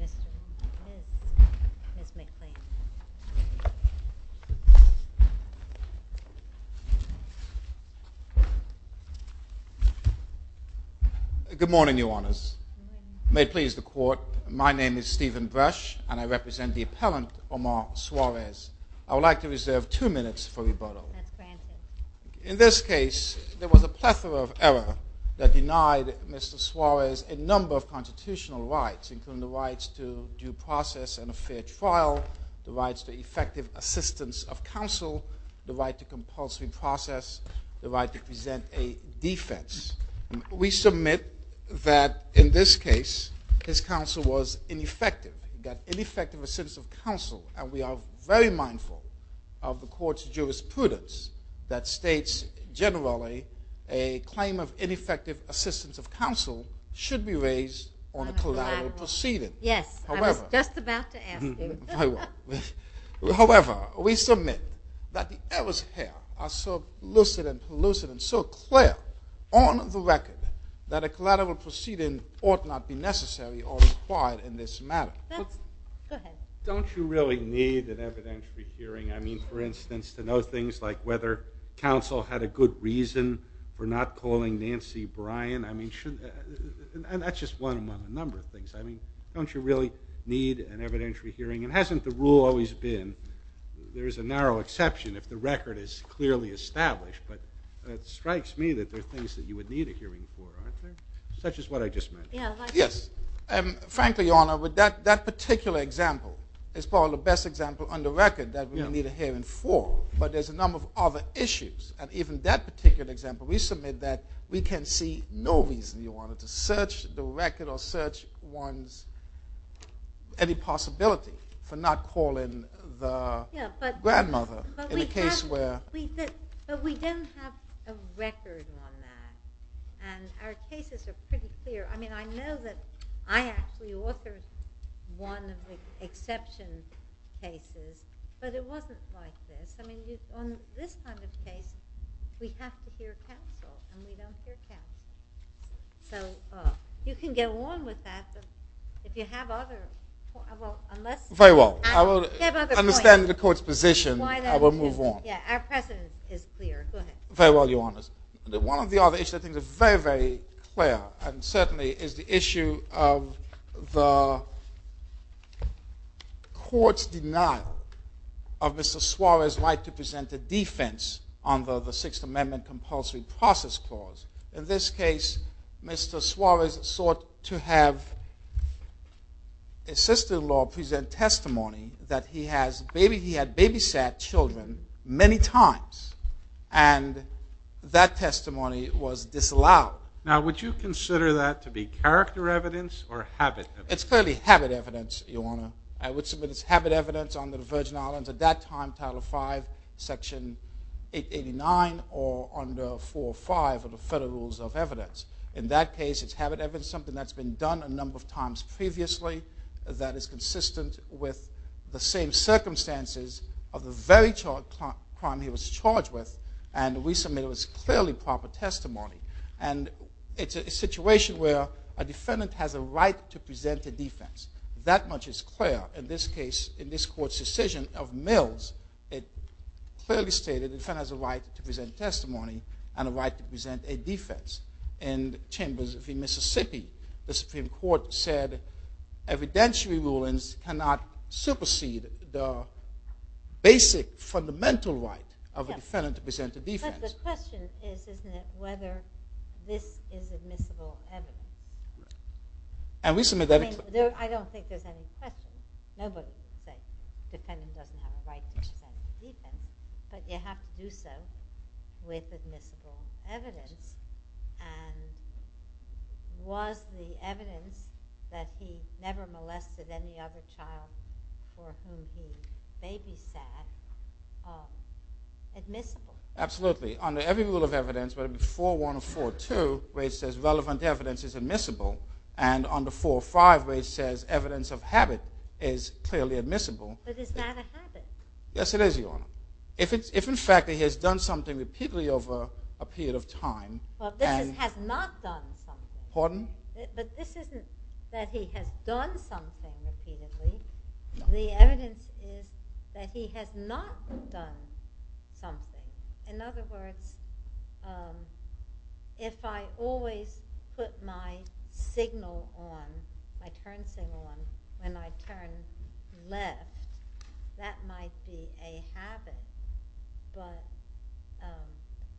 Mr. McClain. Good morning, Your Honors. May it please the Honor. I would like to reserve two minutes for rebuttal. In this case, there was a plethora of error that denied Mr. Suarez a number of constitutional rights, including the rights to due process and a fair trial, the rights to effective assistance of counsel, the right to compulsory process, the right to present a defense. We submit that in this case, his assistance of counsel, and we are very mindful of the court's jurisprudence that states generally a claim of ineffective assistance of counsel should be raised on a collateral proceeding. However, we submit that the errors here are so lucid and so clear on the record that a collateral proceeding ought not be necessary or required in this matter. Don't you really need an evidentiary hearing? I mean, for instance, to know things like whether counsel had a good reason for not calling Nancy Bryan? I mean, shouldn't... And that's just one among a number of things. I mean, don't you really need an evidentiary hearing? And hasn't the rule always been there's a narrow exception if the record is clearly established, but it strikes me that there are things that you would need a hearing for, aren't there? Such as what I just mentioned. Yes. Frankly, Your Honor, with that particular example, it's probably the best example on the record that we need a hearing for, but there's a number of other issues. And even that particular example, we submit that we can see no reason, Your Honor, to search the record or search one's... any possibility for not calling the grandmother in a case where... Yeah, but we don't have a record on that. And our cases are pretty clear. I mean, I know that I actually authored one of the exception cases, but it wasn't like this. I mean, on this kind of case, we have to hear counsel, and we don't hear counsel. So you can go on with that, but if you have other... Well, unless... Very well. I will understand the court's position. I will move on. Yeah, our precedent is clear. Go ahead. Very well, Your Honor. One of the other issues I think is very, very clear, and certainly is the issue of the court's denial of Mr. Suarez's right to present a defense under the Sixth Amendment Compulsory Process Clause. In this case, Mr. Suarez sought to have his sister-in-law present testimony that he had babysat children many times, and that testimony was disallowed. Now, would you consider that to be character evidence or habit evidence? It's clearly habit evidence, Your Honor. I would submit it's habit evidence under the Virgin Islands at that time, Title V, Section 889 or under 405 of the Federal Rules of Evidence. In that case, it's habit evidence, something that's been done a number of times previously, that is consistent with the same circumstances of the very crime he was charged with, and we submit it was clearly proper testimony. And it's a situation where a defendant has a right to present a defense. That much is clear. In this case, in this court's decision of Mills, it clearly stated the defendant has a right to present testimony and a right to present a defense. In Chambers v. Mississippi, the Supreme Court said evidentiary rulings cannot supersede the basic fundamental right of a defendant to present a defense. But the question is, isn't it, whether this is admissible evidence? I don't think there's any question. Nobody would say the defendant doesn't have a right to present a defense, but you have to do so with admissible evidence. And was the evidence that he never molested any other child for whom he babysat admissible? Absolutely. Under every rule of evidence, whether it be 4.1 or 4.2, Raich says relevant evidence is admissible. And under 4.5, Raich says evidence of habit is clearly admissible. But is that a habit? Yes, it is, Your Honor. If, in fact, he has done something repeatedly over a period of time... But this is has not done something. Pardon? But this isn't that he has done something repeatedly. The evidence is that he has not done something. In other words, if I always put my signal on, my turn signal on, when I turn left, that might be a habit. But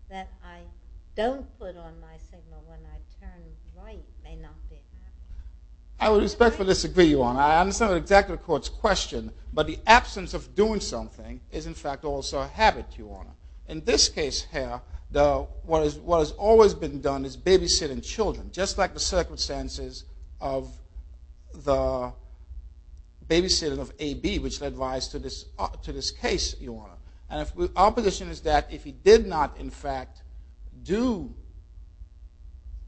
that I don't put on my signal when I turn right may not be a habit. I would respectfully disagree, Your Honor. I understand exactly the court's question. But the absence of doing something is, in fact, also a habit, Your Honor. In this case here, what has always been done is babysitting children, just like the circumstances of the babysitting of AB, which led to this case, Your Honor. And our position is that if he did not, in fact, do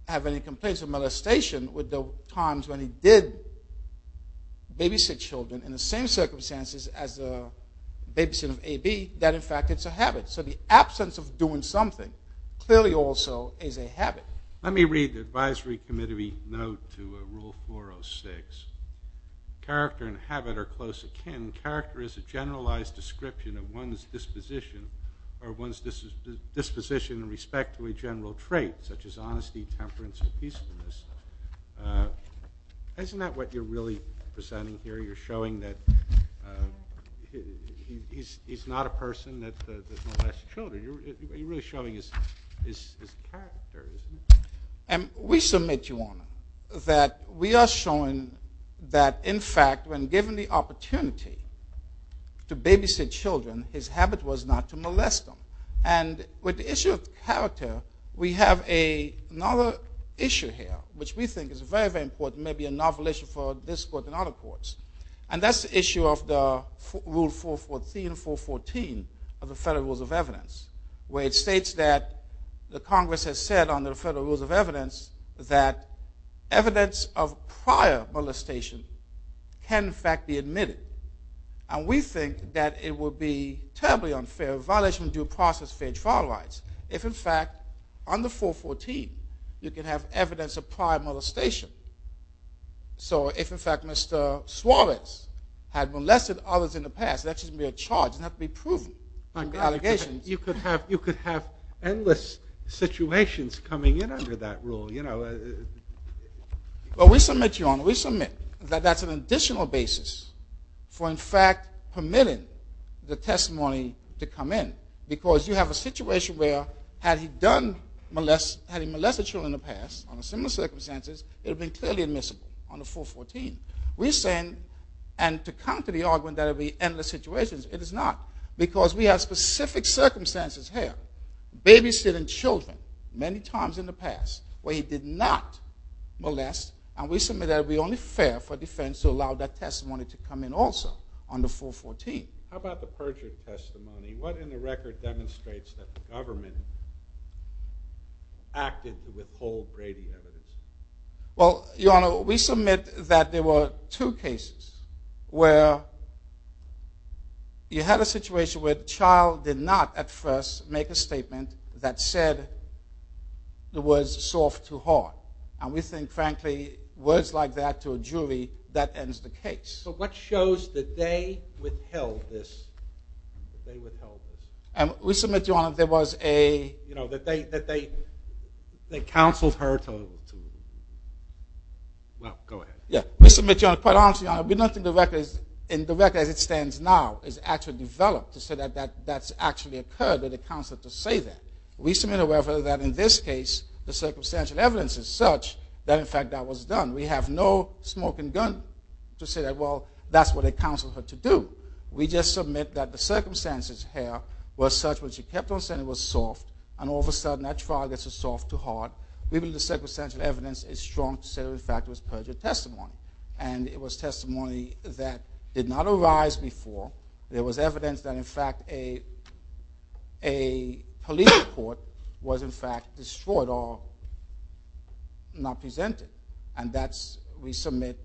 have any complaints or molestation with the times when he did babysit children in the same circumstances as the babysitting of AB, that, in fact, it's a habit. So the absence of doing something clearly also is a habit. Let me read the advisory committee note to Rule 406. Character and description of one's disposition in respect to a general trait, such as honesty, temperance, and peacefulness. Isn't that what you're really presenting here? You're showing that he's not a person that molests children. You're really showing his character, isn't he? We submit, Your Honor, that we are showing that, in fact, when given the opportunity to babysit children, his habit was not to molest them. And with the issue of character, we have another issue here, which we think is very, very important, maybe a novel issue for this court and other courts. And that's the issue of the Rule 414 of the Federal Rules of Evidence, where it states that the Congress has said under the Federal Rules of Evidence that evidence of prior molestation can, in fact, be admitted. And we think that it would be terribly unfair, a violation of due process, fair trial rights, if, in fact, under 414, you can have evidence of prior molestation. So if, in fact, Mr. Suarez had molested others in the past, that should be a charge. It doesn't have to be proven. You could have endless situations coming in under that rule. Well, we submit, Your Honor, we submit that that's an additional basis for, in fact, permitting the testimony to come in. Because you have a situation where had he molested children in the past under similar circumstances, it would have been clearly admissible under 414. We're saying, and to counter the argument that it would be endless situations, it is not. Because we have specific circumstances here, babysitting children many times in the past where he did not molest, and we submit that it would be only fair for defense to allow that testimony to come in also under 414. How about the perjury testimony? What in the record demonstrates that the government acted to withhold Brady evidence? Well, Your Honor, we submit that there were two cases where you had a situation where the child did not at first make a statement that said the words soft to hard. And we think, frankly, words like that to a jury, that ends the case. So what shows that they withheld this? They withheld this. And we submit, Your Honor, there was a... You know, that they counseled her to... Well, go ahead. Yeah, we submit, Your Honor, quite honestly, Your Honor, we don't think the record as it stands now is actually developed to say that that's actually occurred, that they counseled her to say that. We submit, however, that in this case the circumstantial evidence is such that, in fact, that was done. We have no smoking gun to say that, well, that's what they counseled her to do. We just submit that the circumstances here were such when she kept on saying it was soft and all of a sudden that trial gets a soft to hard. We believe the circumstantial evidence is strong to say, in fact, it was perjured testimony. And it was testimony that did not arise before. There was evidence that, in fact, a police report was, in fact, destroyed or not presented. And that, we submit,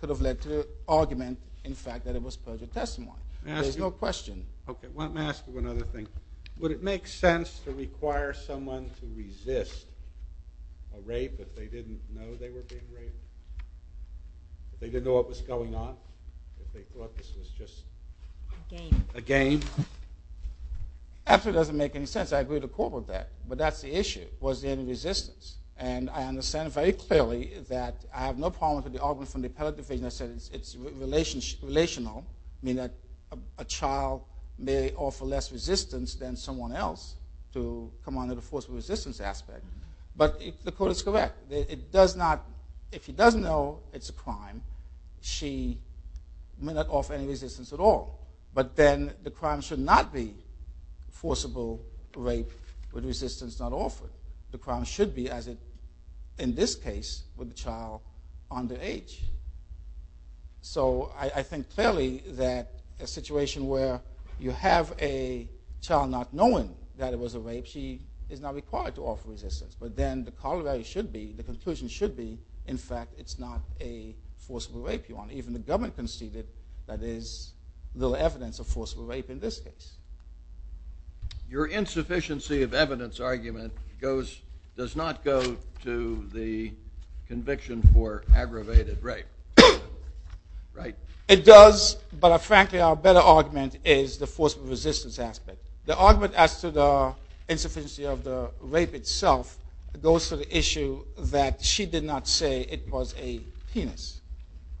could have led to the argument, in fact, that it was perjured testimony. There's no question. Okay, let me ask you one other thing. Would it make sense to require someone to resist a rape if they didn't know they were being raped? If they didn't know what was going on? If they thought this was just... A game. A game. Actually, it doesn't make any sense. I agree with the court with that. But that's the issue, was there any resistance? And I understand very clearly that I have no problem with the argument from the appellate division. I said it's relational, meaning that a child may offer less resistance than someone else to come under the forcible resistance aspect. But the court is correct. It does not, if she doesn't know it's a crime, she may not offer any resistance at all. But then the crime should not be forcible rape with resistance not offered. The crime should be, as in this case, with the child underage. So I think clearly that a situation where you have a child not knowing that it was a rape, she is not required to offer resistance. But then the conclusion should be, in fact, it's not a forcible rape. Even the government conceded that there is little evidence of forcible rape in this case. Your insufficiency of evidence argument does not go to the conviction for aggravated rape, right? It does, but frankly our better argument is the forcible resistance aspect. The argument as to the insufficiency of the rape itself goes to the issue that she did not say it was a penis,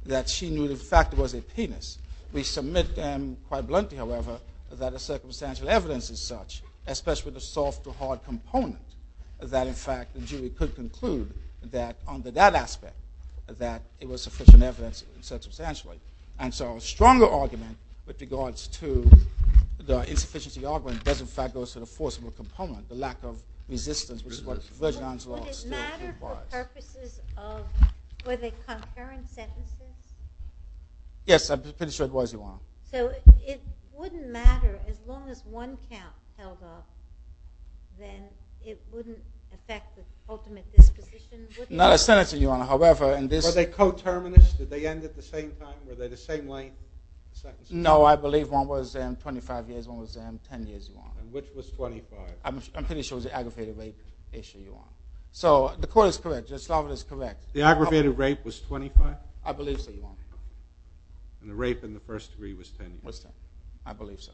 that she knew the fact it was a penis. We submit quite bluntly, however, that the circumstantial evidence is such, especially the soft to hard component, that in fact the jury could conclude that under that aspect that it was sufficient evidence circumstantially. And so a stronger argument with regards to the insufficiency argument does, in fact, go to the forcible component, the lack of resistance, which is what Virginia's law still implies. But it mattered for purposes of, were they concurring sentences? Yes, I'm pretty sure it was, Your Honor. So it wouldn't matter as long as one count held up, then it wouldn't affect the ultimate disposition? Not a sentence, Your Honor. However, in this- Were they coterminous? Did they end at the same time? Were they the same length? No, I believe one was 25 years, one was 10 years, Your Honor. And which was 25? I'm pretty sure it was the aggravated rape issue, Your Honor. So the court is correct. Slavitt is correct. The aggravated rape was 25? I believe so, Your Honor. And the rape in the first degree was 10 years? I believe so.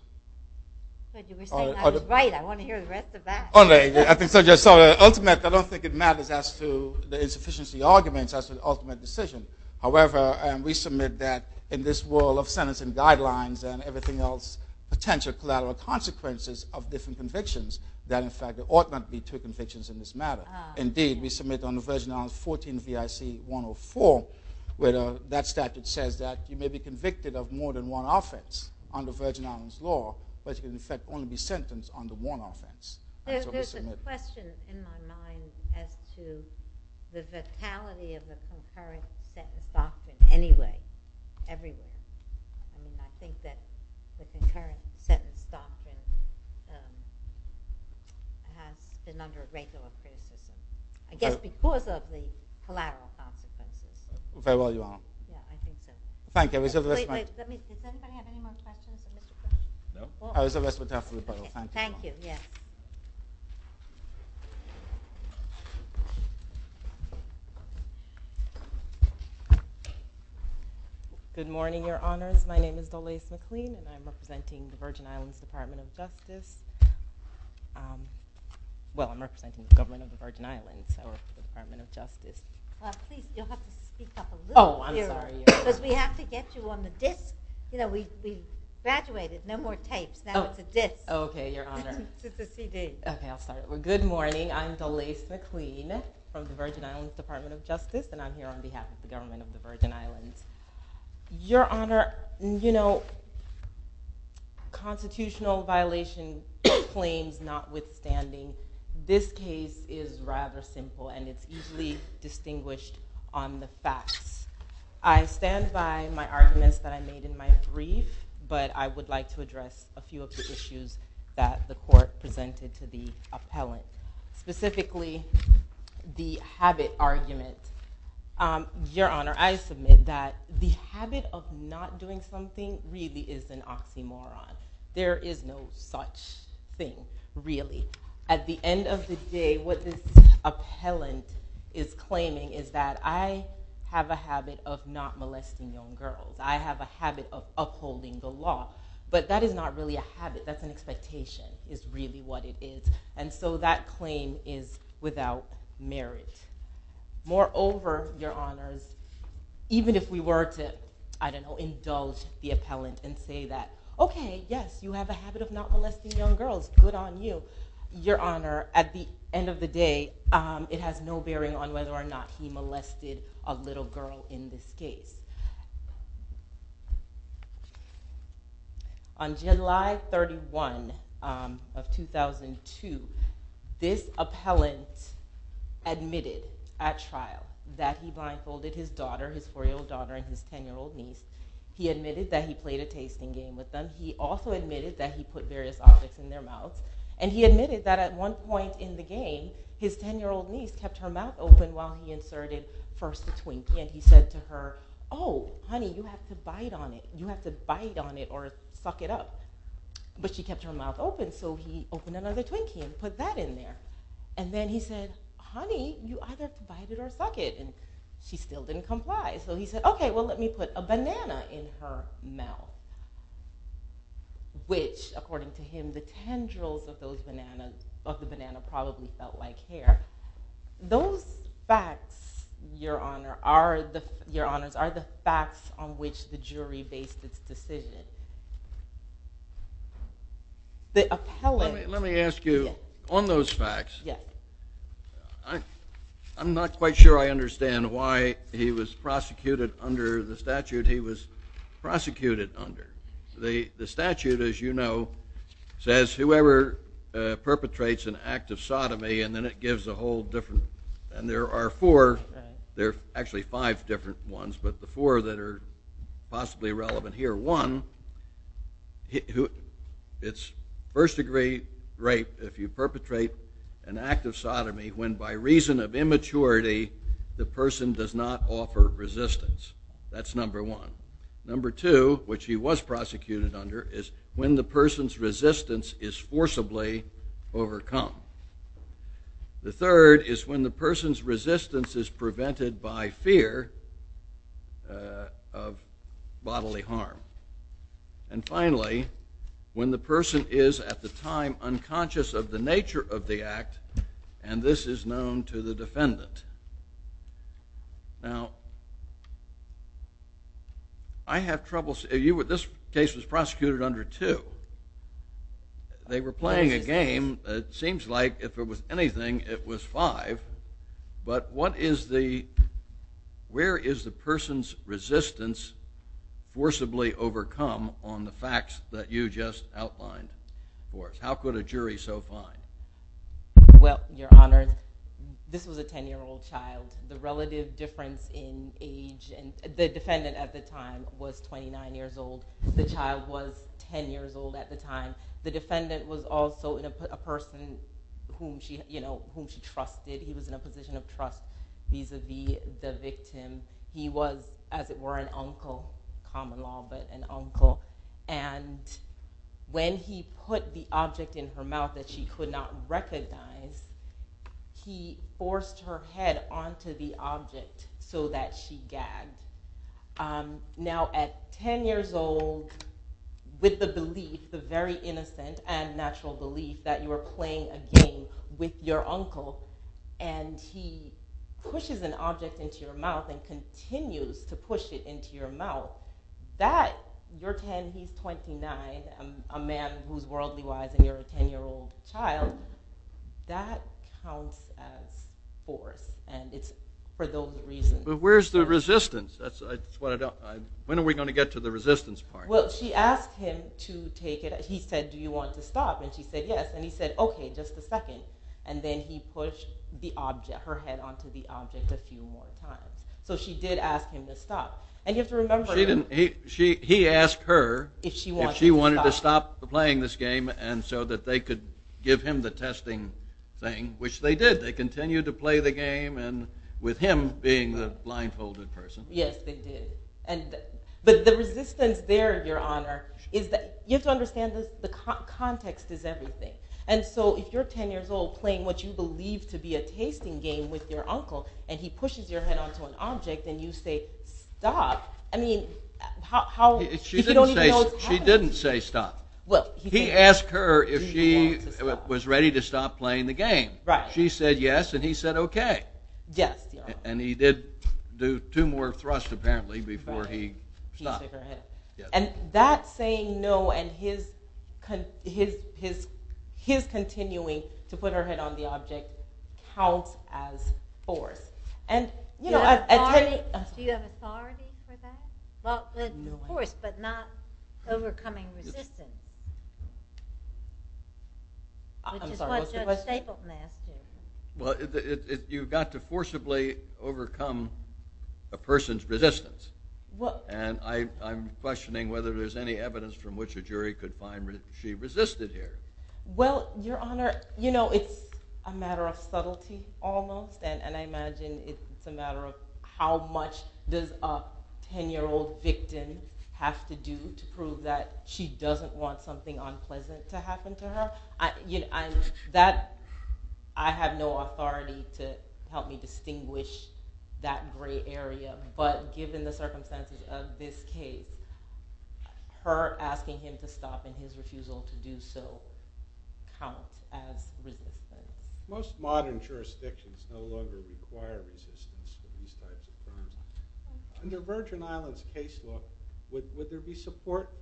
But you were saying I was right. I want to hear the rest of that. Ultimately, I don't think it matters as to the insufficiency arguments as to the ultimate decision. However, we submit that in this world of sentencing guidelines and everything else, potential collateral consequences of different convictions, that, in fact, there ought not be two convictions in this matter. Indeed, we submit under Virgin Islands 14 V.I.C. 104, where that statute says that you may be convicted of more than one offense under Virgin Islands law, but you can, in fact, only be sentenced under one offense. There's a question in my mind as to the vitality of the concurrent sentence doctrine anyway, everywhere. I think that the concurrent sentence doctrine has been under regular criticism, I guess because of the collateral consequences. Very well, Your Honor. Thank you. Does anybody have any more questions? No. Thank you. Yes. Good morning, Your Honors. My name is Dolese McLean, and I'm representing the Virgin Islands Department of Justice. Well, I'm representing the government of the Virgin Islands, so I work for the Department of Justice. Please, you'll have to speak up a little. Oh, I'm sorry. Because we have to get you on the disc. You know, we've graduated. No more tapes. Now it's a disc. Okay, Your Honor. It's a CD. Okay, I'll start. Well, good morning. I'm Dolese McLean from the Virgin Islands Department of Justice, and I'm here on behalf of the government of the Virgin Islands. Your Honor, you know, constitutional violation claims notwithstanding, this case is rather simple, and it's easily distinguished on the facts. I stand by my arguments that I made in my brief, but I would like to address a few of the issues that the court presented to the appellant, specifically the habit argument. Your Honor, I submit that the habit of not doing something really is an oxymoron. There is no such thing, really. At the end of the day, what this appellant is claiming is that I have a habit of not molesting young girls. I have a habit of upholding the law. But that is not really a habit. That's an expectation is really what it is. And so that claim is without merit. Moreover, Your Honors, even if we were to, I don't know, indulge the appellant and say that, okay, yes, you have a habit of not molesting young girls. Good on you. Your Honor, at the end of the day, it has no bearing on whether or not he molested a little girl in this case. On July 31 of 2002, this appellant admitted at trial that he blindfolded his daughter, his 4-year-old daughter and his 10-year-old niece. He admitted that he played a tasting game with them. He also admitted that he put various objects in their mouths. And he admitted that at one point in the game, his 10-year-old niece kept her mouth open while he inserted first a Twinkie. And he said to her, oh, honey, you have to bite on it. You have to bite on it or suck it up. But she kept her mouth open, so he opened another Twinkie and put that in there. And then he said, honey, you either bite it or suck it. And she still didn't comply. So he said, okay, well, let me put a banana in her mouth, which, according to him, the tendrils of the banana probably felt like hair. Those facts, Your Honor, are the facts on which the jury based its decision. Let me ask you, on those facts, I'm not quite sure I understand why he was prosecuted under the statute he was prosecuted under. The statute, as you know, says whoever perpetrates an act of sodomy, and then it gives a whole different, and there are four, there are actually five different ones, but the four that are possibly relevant here. One, it's first degree rape if you perpetrate an act of sodomy when, by reason of immaturity, the person does not offer resistance. That's number one. Number two, which he was prosecuted under, is when the person's resistance is forcibly overcome. The third is when the person's resistance is prevented by fear of bodily harm. And finally, when the person is, at the time, unconscious of the nature of the act, and this is known to the defendant. Now, I have trouble, this case was prosecuted under two. They were playing a game. It seems like if it was anything, it was five, but what is the, where is the person's resistance forcibly overcome on the facts that you just outlined for us? How could a jury so find? Well, Your Honor, this was a 10-year-old child. The relative difference in age, and the defendant at the time was 29 years old. The child was 10 years old at the time. The defendant was also a person whom she trusted. He was in a position of trust vis-a-vis the victim. He was, as it were, an uncle, common law, but an uncle. And when he put the object in her mouth that she could not recognize, he forced her head onto the object so that she gagged. Now, at 10 years old, with the belief, the very innocent and natural belief, that you were playing a game with your uncle, and he pushes an object into your mouth and continues to push it into your mouth, that, you're 10, he's 29, a man who's worldly wise, and you're a 10-year-old child, that counts as force. And it's for those reasons. But where's the resistance? That's what I don't, when are we going to get to the resistance part? Well, she asked him to take it, he said, do you want to stop? And she said, yes. And he said, okay, just a second. And then he pushed the object, her head onto the object a few more times. So she did ask him to stop. He asked her if she wanted to stop playing this game so that they could give him the testing thing, which they did. They continued to play the game with him being the blindfolded person. Yes, they did. But the resistance there, Your Honor, is that you have to understand, the context is everything. And so if you're 10 years old playing what you believe to be a tasting game with your uncle, and he pushes your head onto an object, and you say stop, I mean, he don't even know it's happening. She didn't say stop. He asked her if she was ready to stop playing the game. She said yes, and he said okay. And he did do two more thrusts, apparently, before he stopped. And that saying no and his continuing to put her head on the object counts as force. Do you have authority for that? Well, of course, but not overcoming resistance, which is what Judge Stapleton asked him. Well, you've got to forcibly overcome a person's resistance. And I'm questioning whether there's any evidence from which a jury could find she resisted here. Well, Your Honor, you know, it's a matter of subtlety almost, and I imagine it's a matter of how much does a 10-year-old victim have to do to prove that she doesn't want something unpleasant to happen to her. I have no authority to help me distinguish that gray area. But given the circumstances of this case, her asking him to stop and his refusal to do so counts as resisting. Most modern jurisdictions no longer require resistance for these types of crimes. Under Virgin Islands case law, would there be support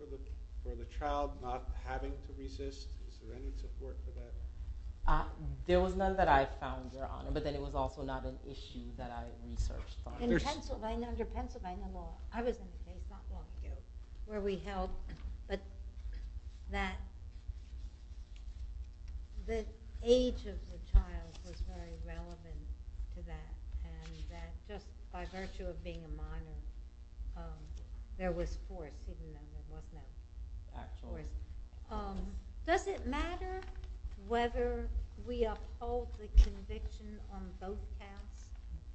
for the child not having to resist? Is there any support for that? There was none that I found, Your Honor, but then it was also not an issue that I researched. In Pennsylvania, under Pennsylvania law, I was in a place not long ago where we held that the age of the child was very relevant to that, and that just by virtue of being a minor, there was support, even though there was no court. Does it matter whether we uphold the conviction on both counts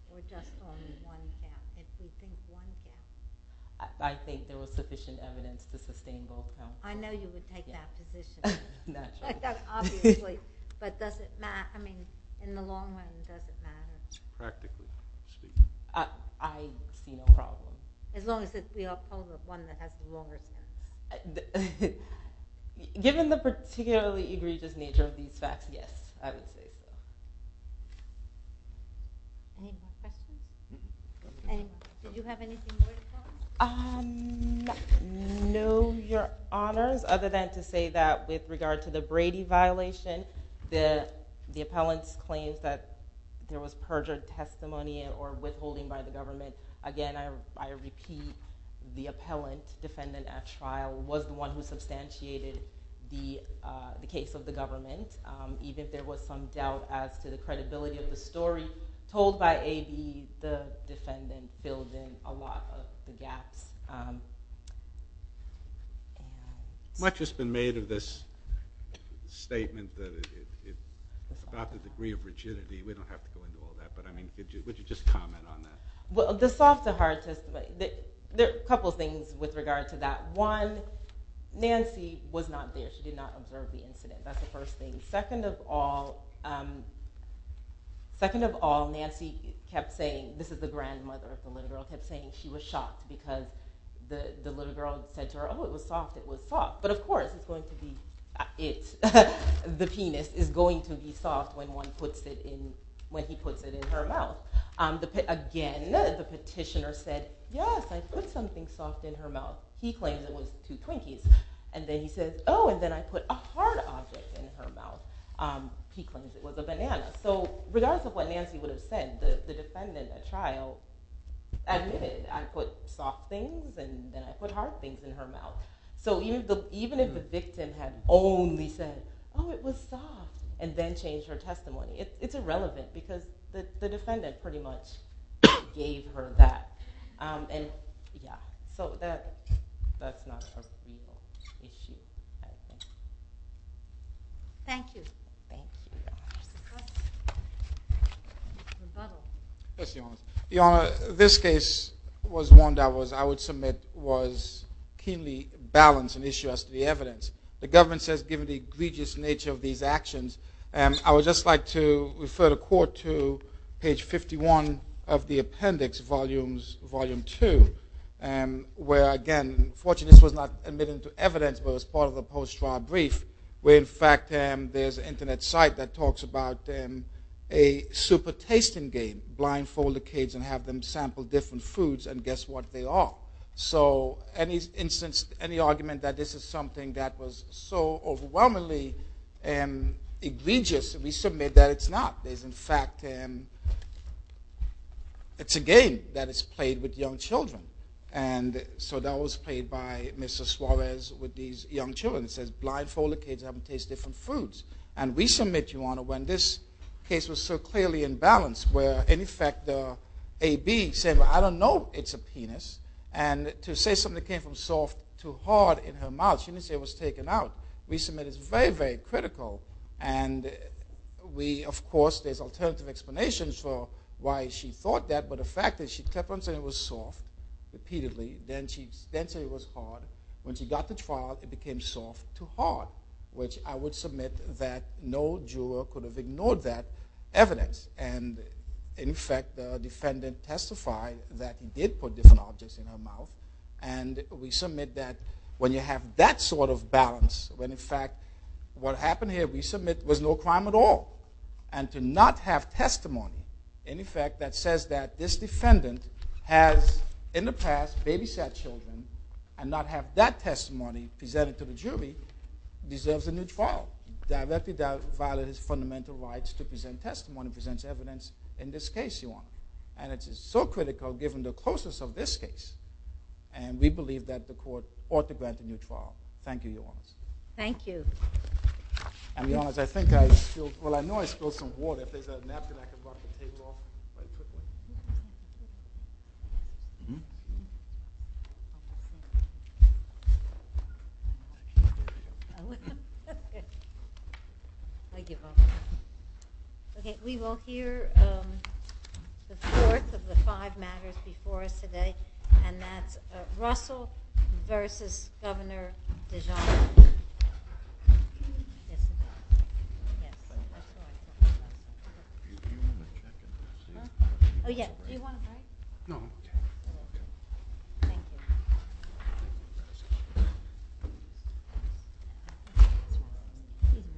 or just on one count, if we think one counts? I think there was sufficient evidence to sustain both counts. I know you would take that position. Naturally. Obviously. But does it matter? I mean, in the long run, does it matter? Practically. I see no problem. As long as it's the upholder, one that has the longer term. Given the particularly egregious nature of these facts, yes, I would say so. Any more questions? Did you have anything more to comment? No, Your Honors. Other than to say that with regard to the Brady violation, the appellant's claims that there was perjured testimony or withholding by the government. Again, I repeat, the appellant, defendant at trial, was the one who substantiated the case of the government. Even if there was some doubt as to the credibility of the story, I was told by A.B. the defendant filled in a lot of the gaps. Much has been made of this statement about the degree of rigidity. We don't have to go into all that, but would you just comment on that? The soft to hard testimony. There are a couple of things with regard to that. One, Nancy was not there. She did not observe the incident. That's the first thing. Second of all, Nancy kept saying, this is the grandmother of the little girl, kept saying she was shocked because the little girl said to her, oh, it was soft, it was soft. But of course, it's going to be, the penis is going to be soft when one puts it in, when he puts it in her mouth. Again, the petitioner said, yes, I put something soft in her mouth. He claims it was two Twinkies. And then he says, oh, and then I put a hard object in her mouth. He claims it was a banana. So regardless of what Nancy would have said, the defendant at trial admitted, I put soft things and then I put hard things in her mouth. So even if the victim had only said, oh, it was soft, and then changed her testimony, it's irrelevant because the defendant pretty much gave her that. And, yeah, so that's not a real issue, I think. Thank you. Thank you, Your Honor. Yes, Your Honor. Your Honor, this case was one that I would submit was keenly balanced and issued as to the evidence. The government says given the egregious nature of these actions, I would just like to refer the Court to page 51 of the appendix, Volume 2, where, again, fortunately this was not admitted into evidence, but it was part of the post-trial brief, where in fact there's an Internet site that talks about a super-tasting game, blindfold the kids and have them sample different foods, and guess what they are. So any argument that this is something that was so overwhelmingly egregious, we submit that it's not. In fact, it's a game that is played with young children. And so that was played by Mr. Suarez with these young children. It says blindfold the kids and have them taste different foods. And we submit, Your Honor, when this case was so clearly in balance, where in effect the AB said, well, I don't know it's a penis, and to say something came from soft to hard in her mouth, she didn't say it was taken out. We submit it's very, very critical. And we, of course, there's alternative explanations for why she thought that, but the fact is she kept on saying it was soft repeatedly, then she said it was hard. When she got to trial, it became soft to hard, which I would submit that no juror could have ignored that evidence. And, in fact, the defendant testified that he did put different objects in her mouth. And we submit that when you have that sort of balance, when, in fact, what happened here we submit was no crime at all. And to not have testimony, in effect, that says that this defendant has in the past babysat children and not have that testimony presented to the jury deserves a new trial. Directly violated his fundamental rights to present testimony, present evidence in this case, Your Honor. And it is so critical given the closeness of this case. And we believe that the court ought to grant a new trial. Thank you, Your Honor. Thank you. And, Your Honor, I think I spilled, well, I know I spilled some water. If there's a napkin I can drop the table off right quickly. I give up. Okay. We will hear the fourth of the five matters before us today, and that's Russell v. Governor DeGioia. Oh, yeah. Do you want a mic? No. Okay. Thank you.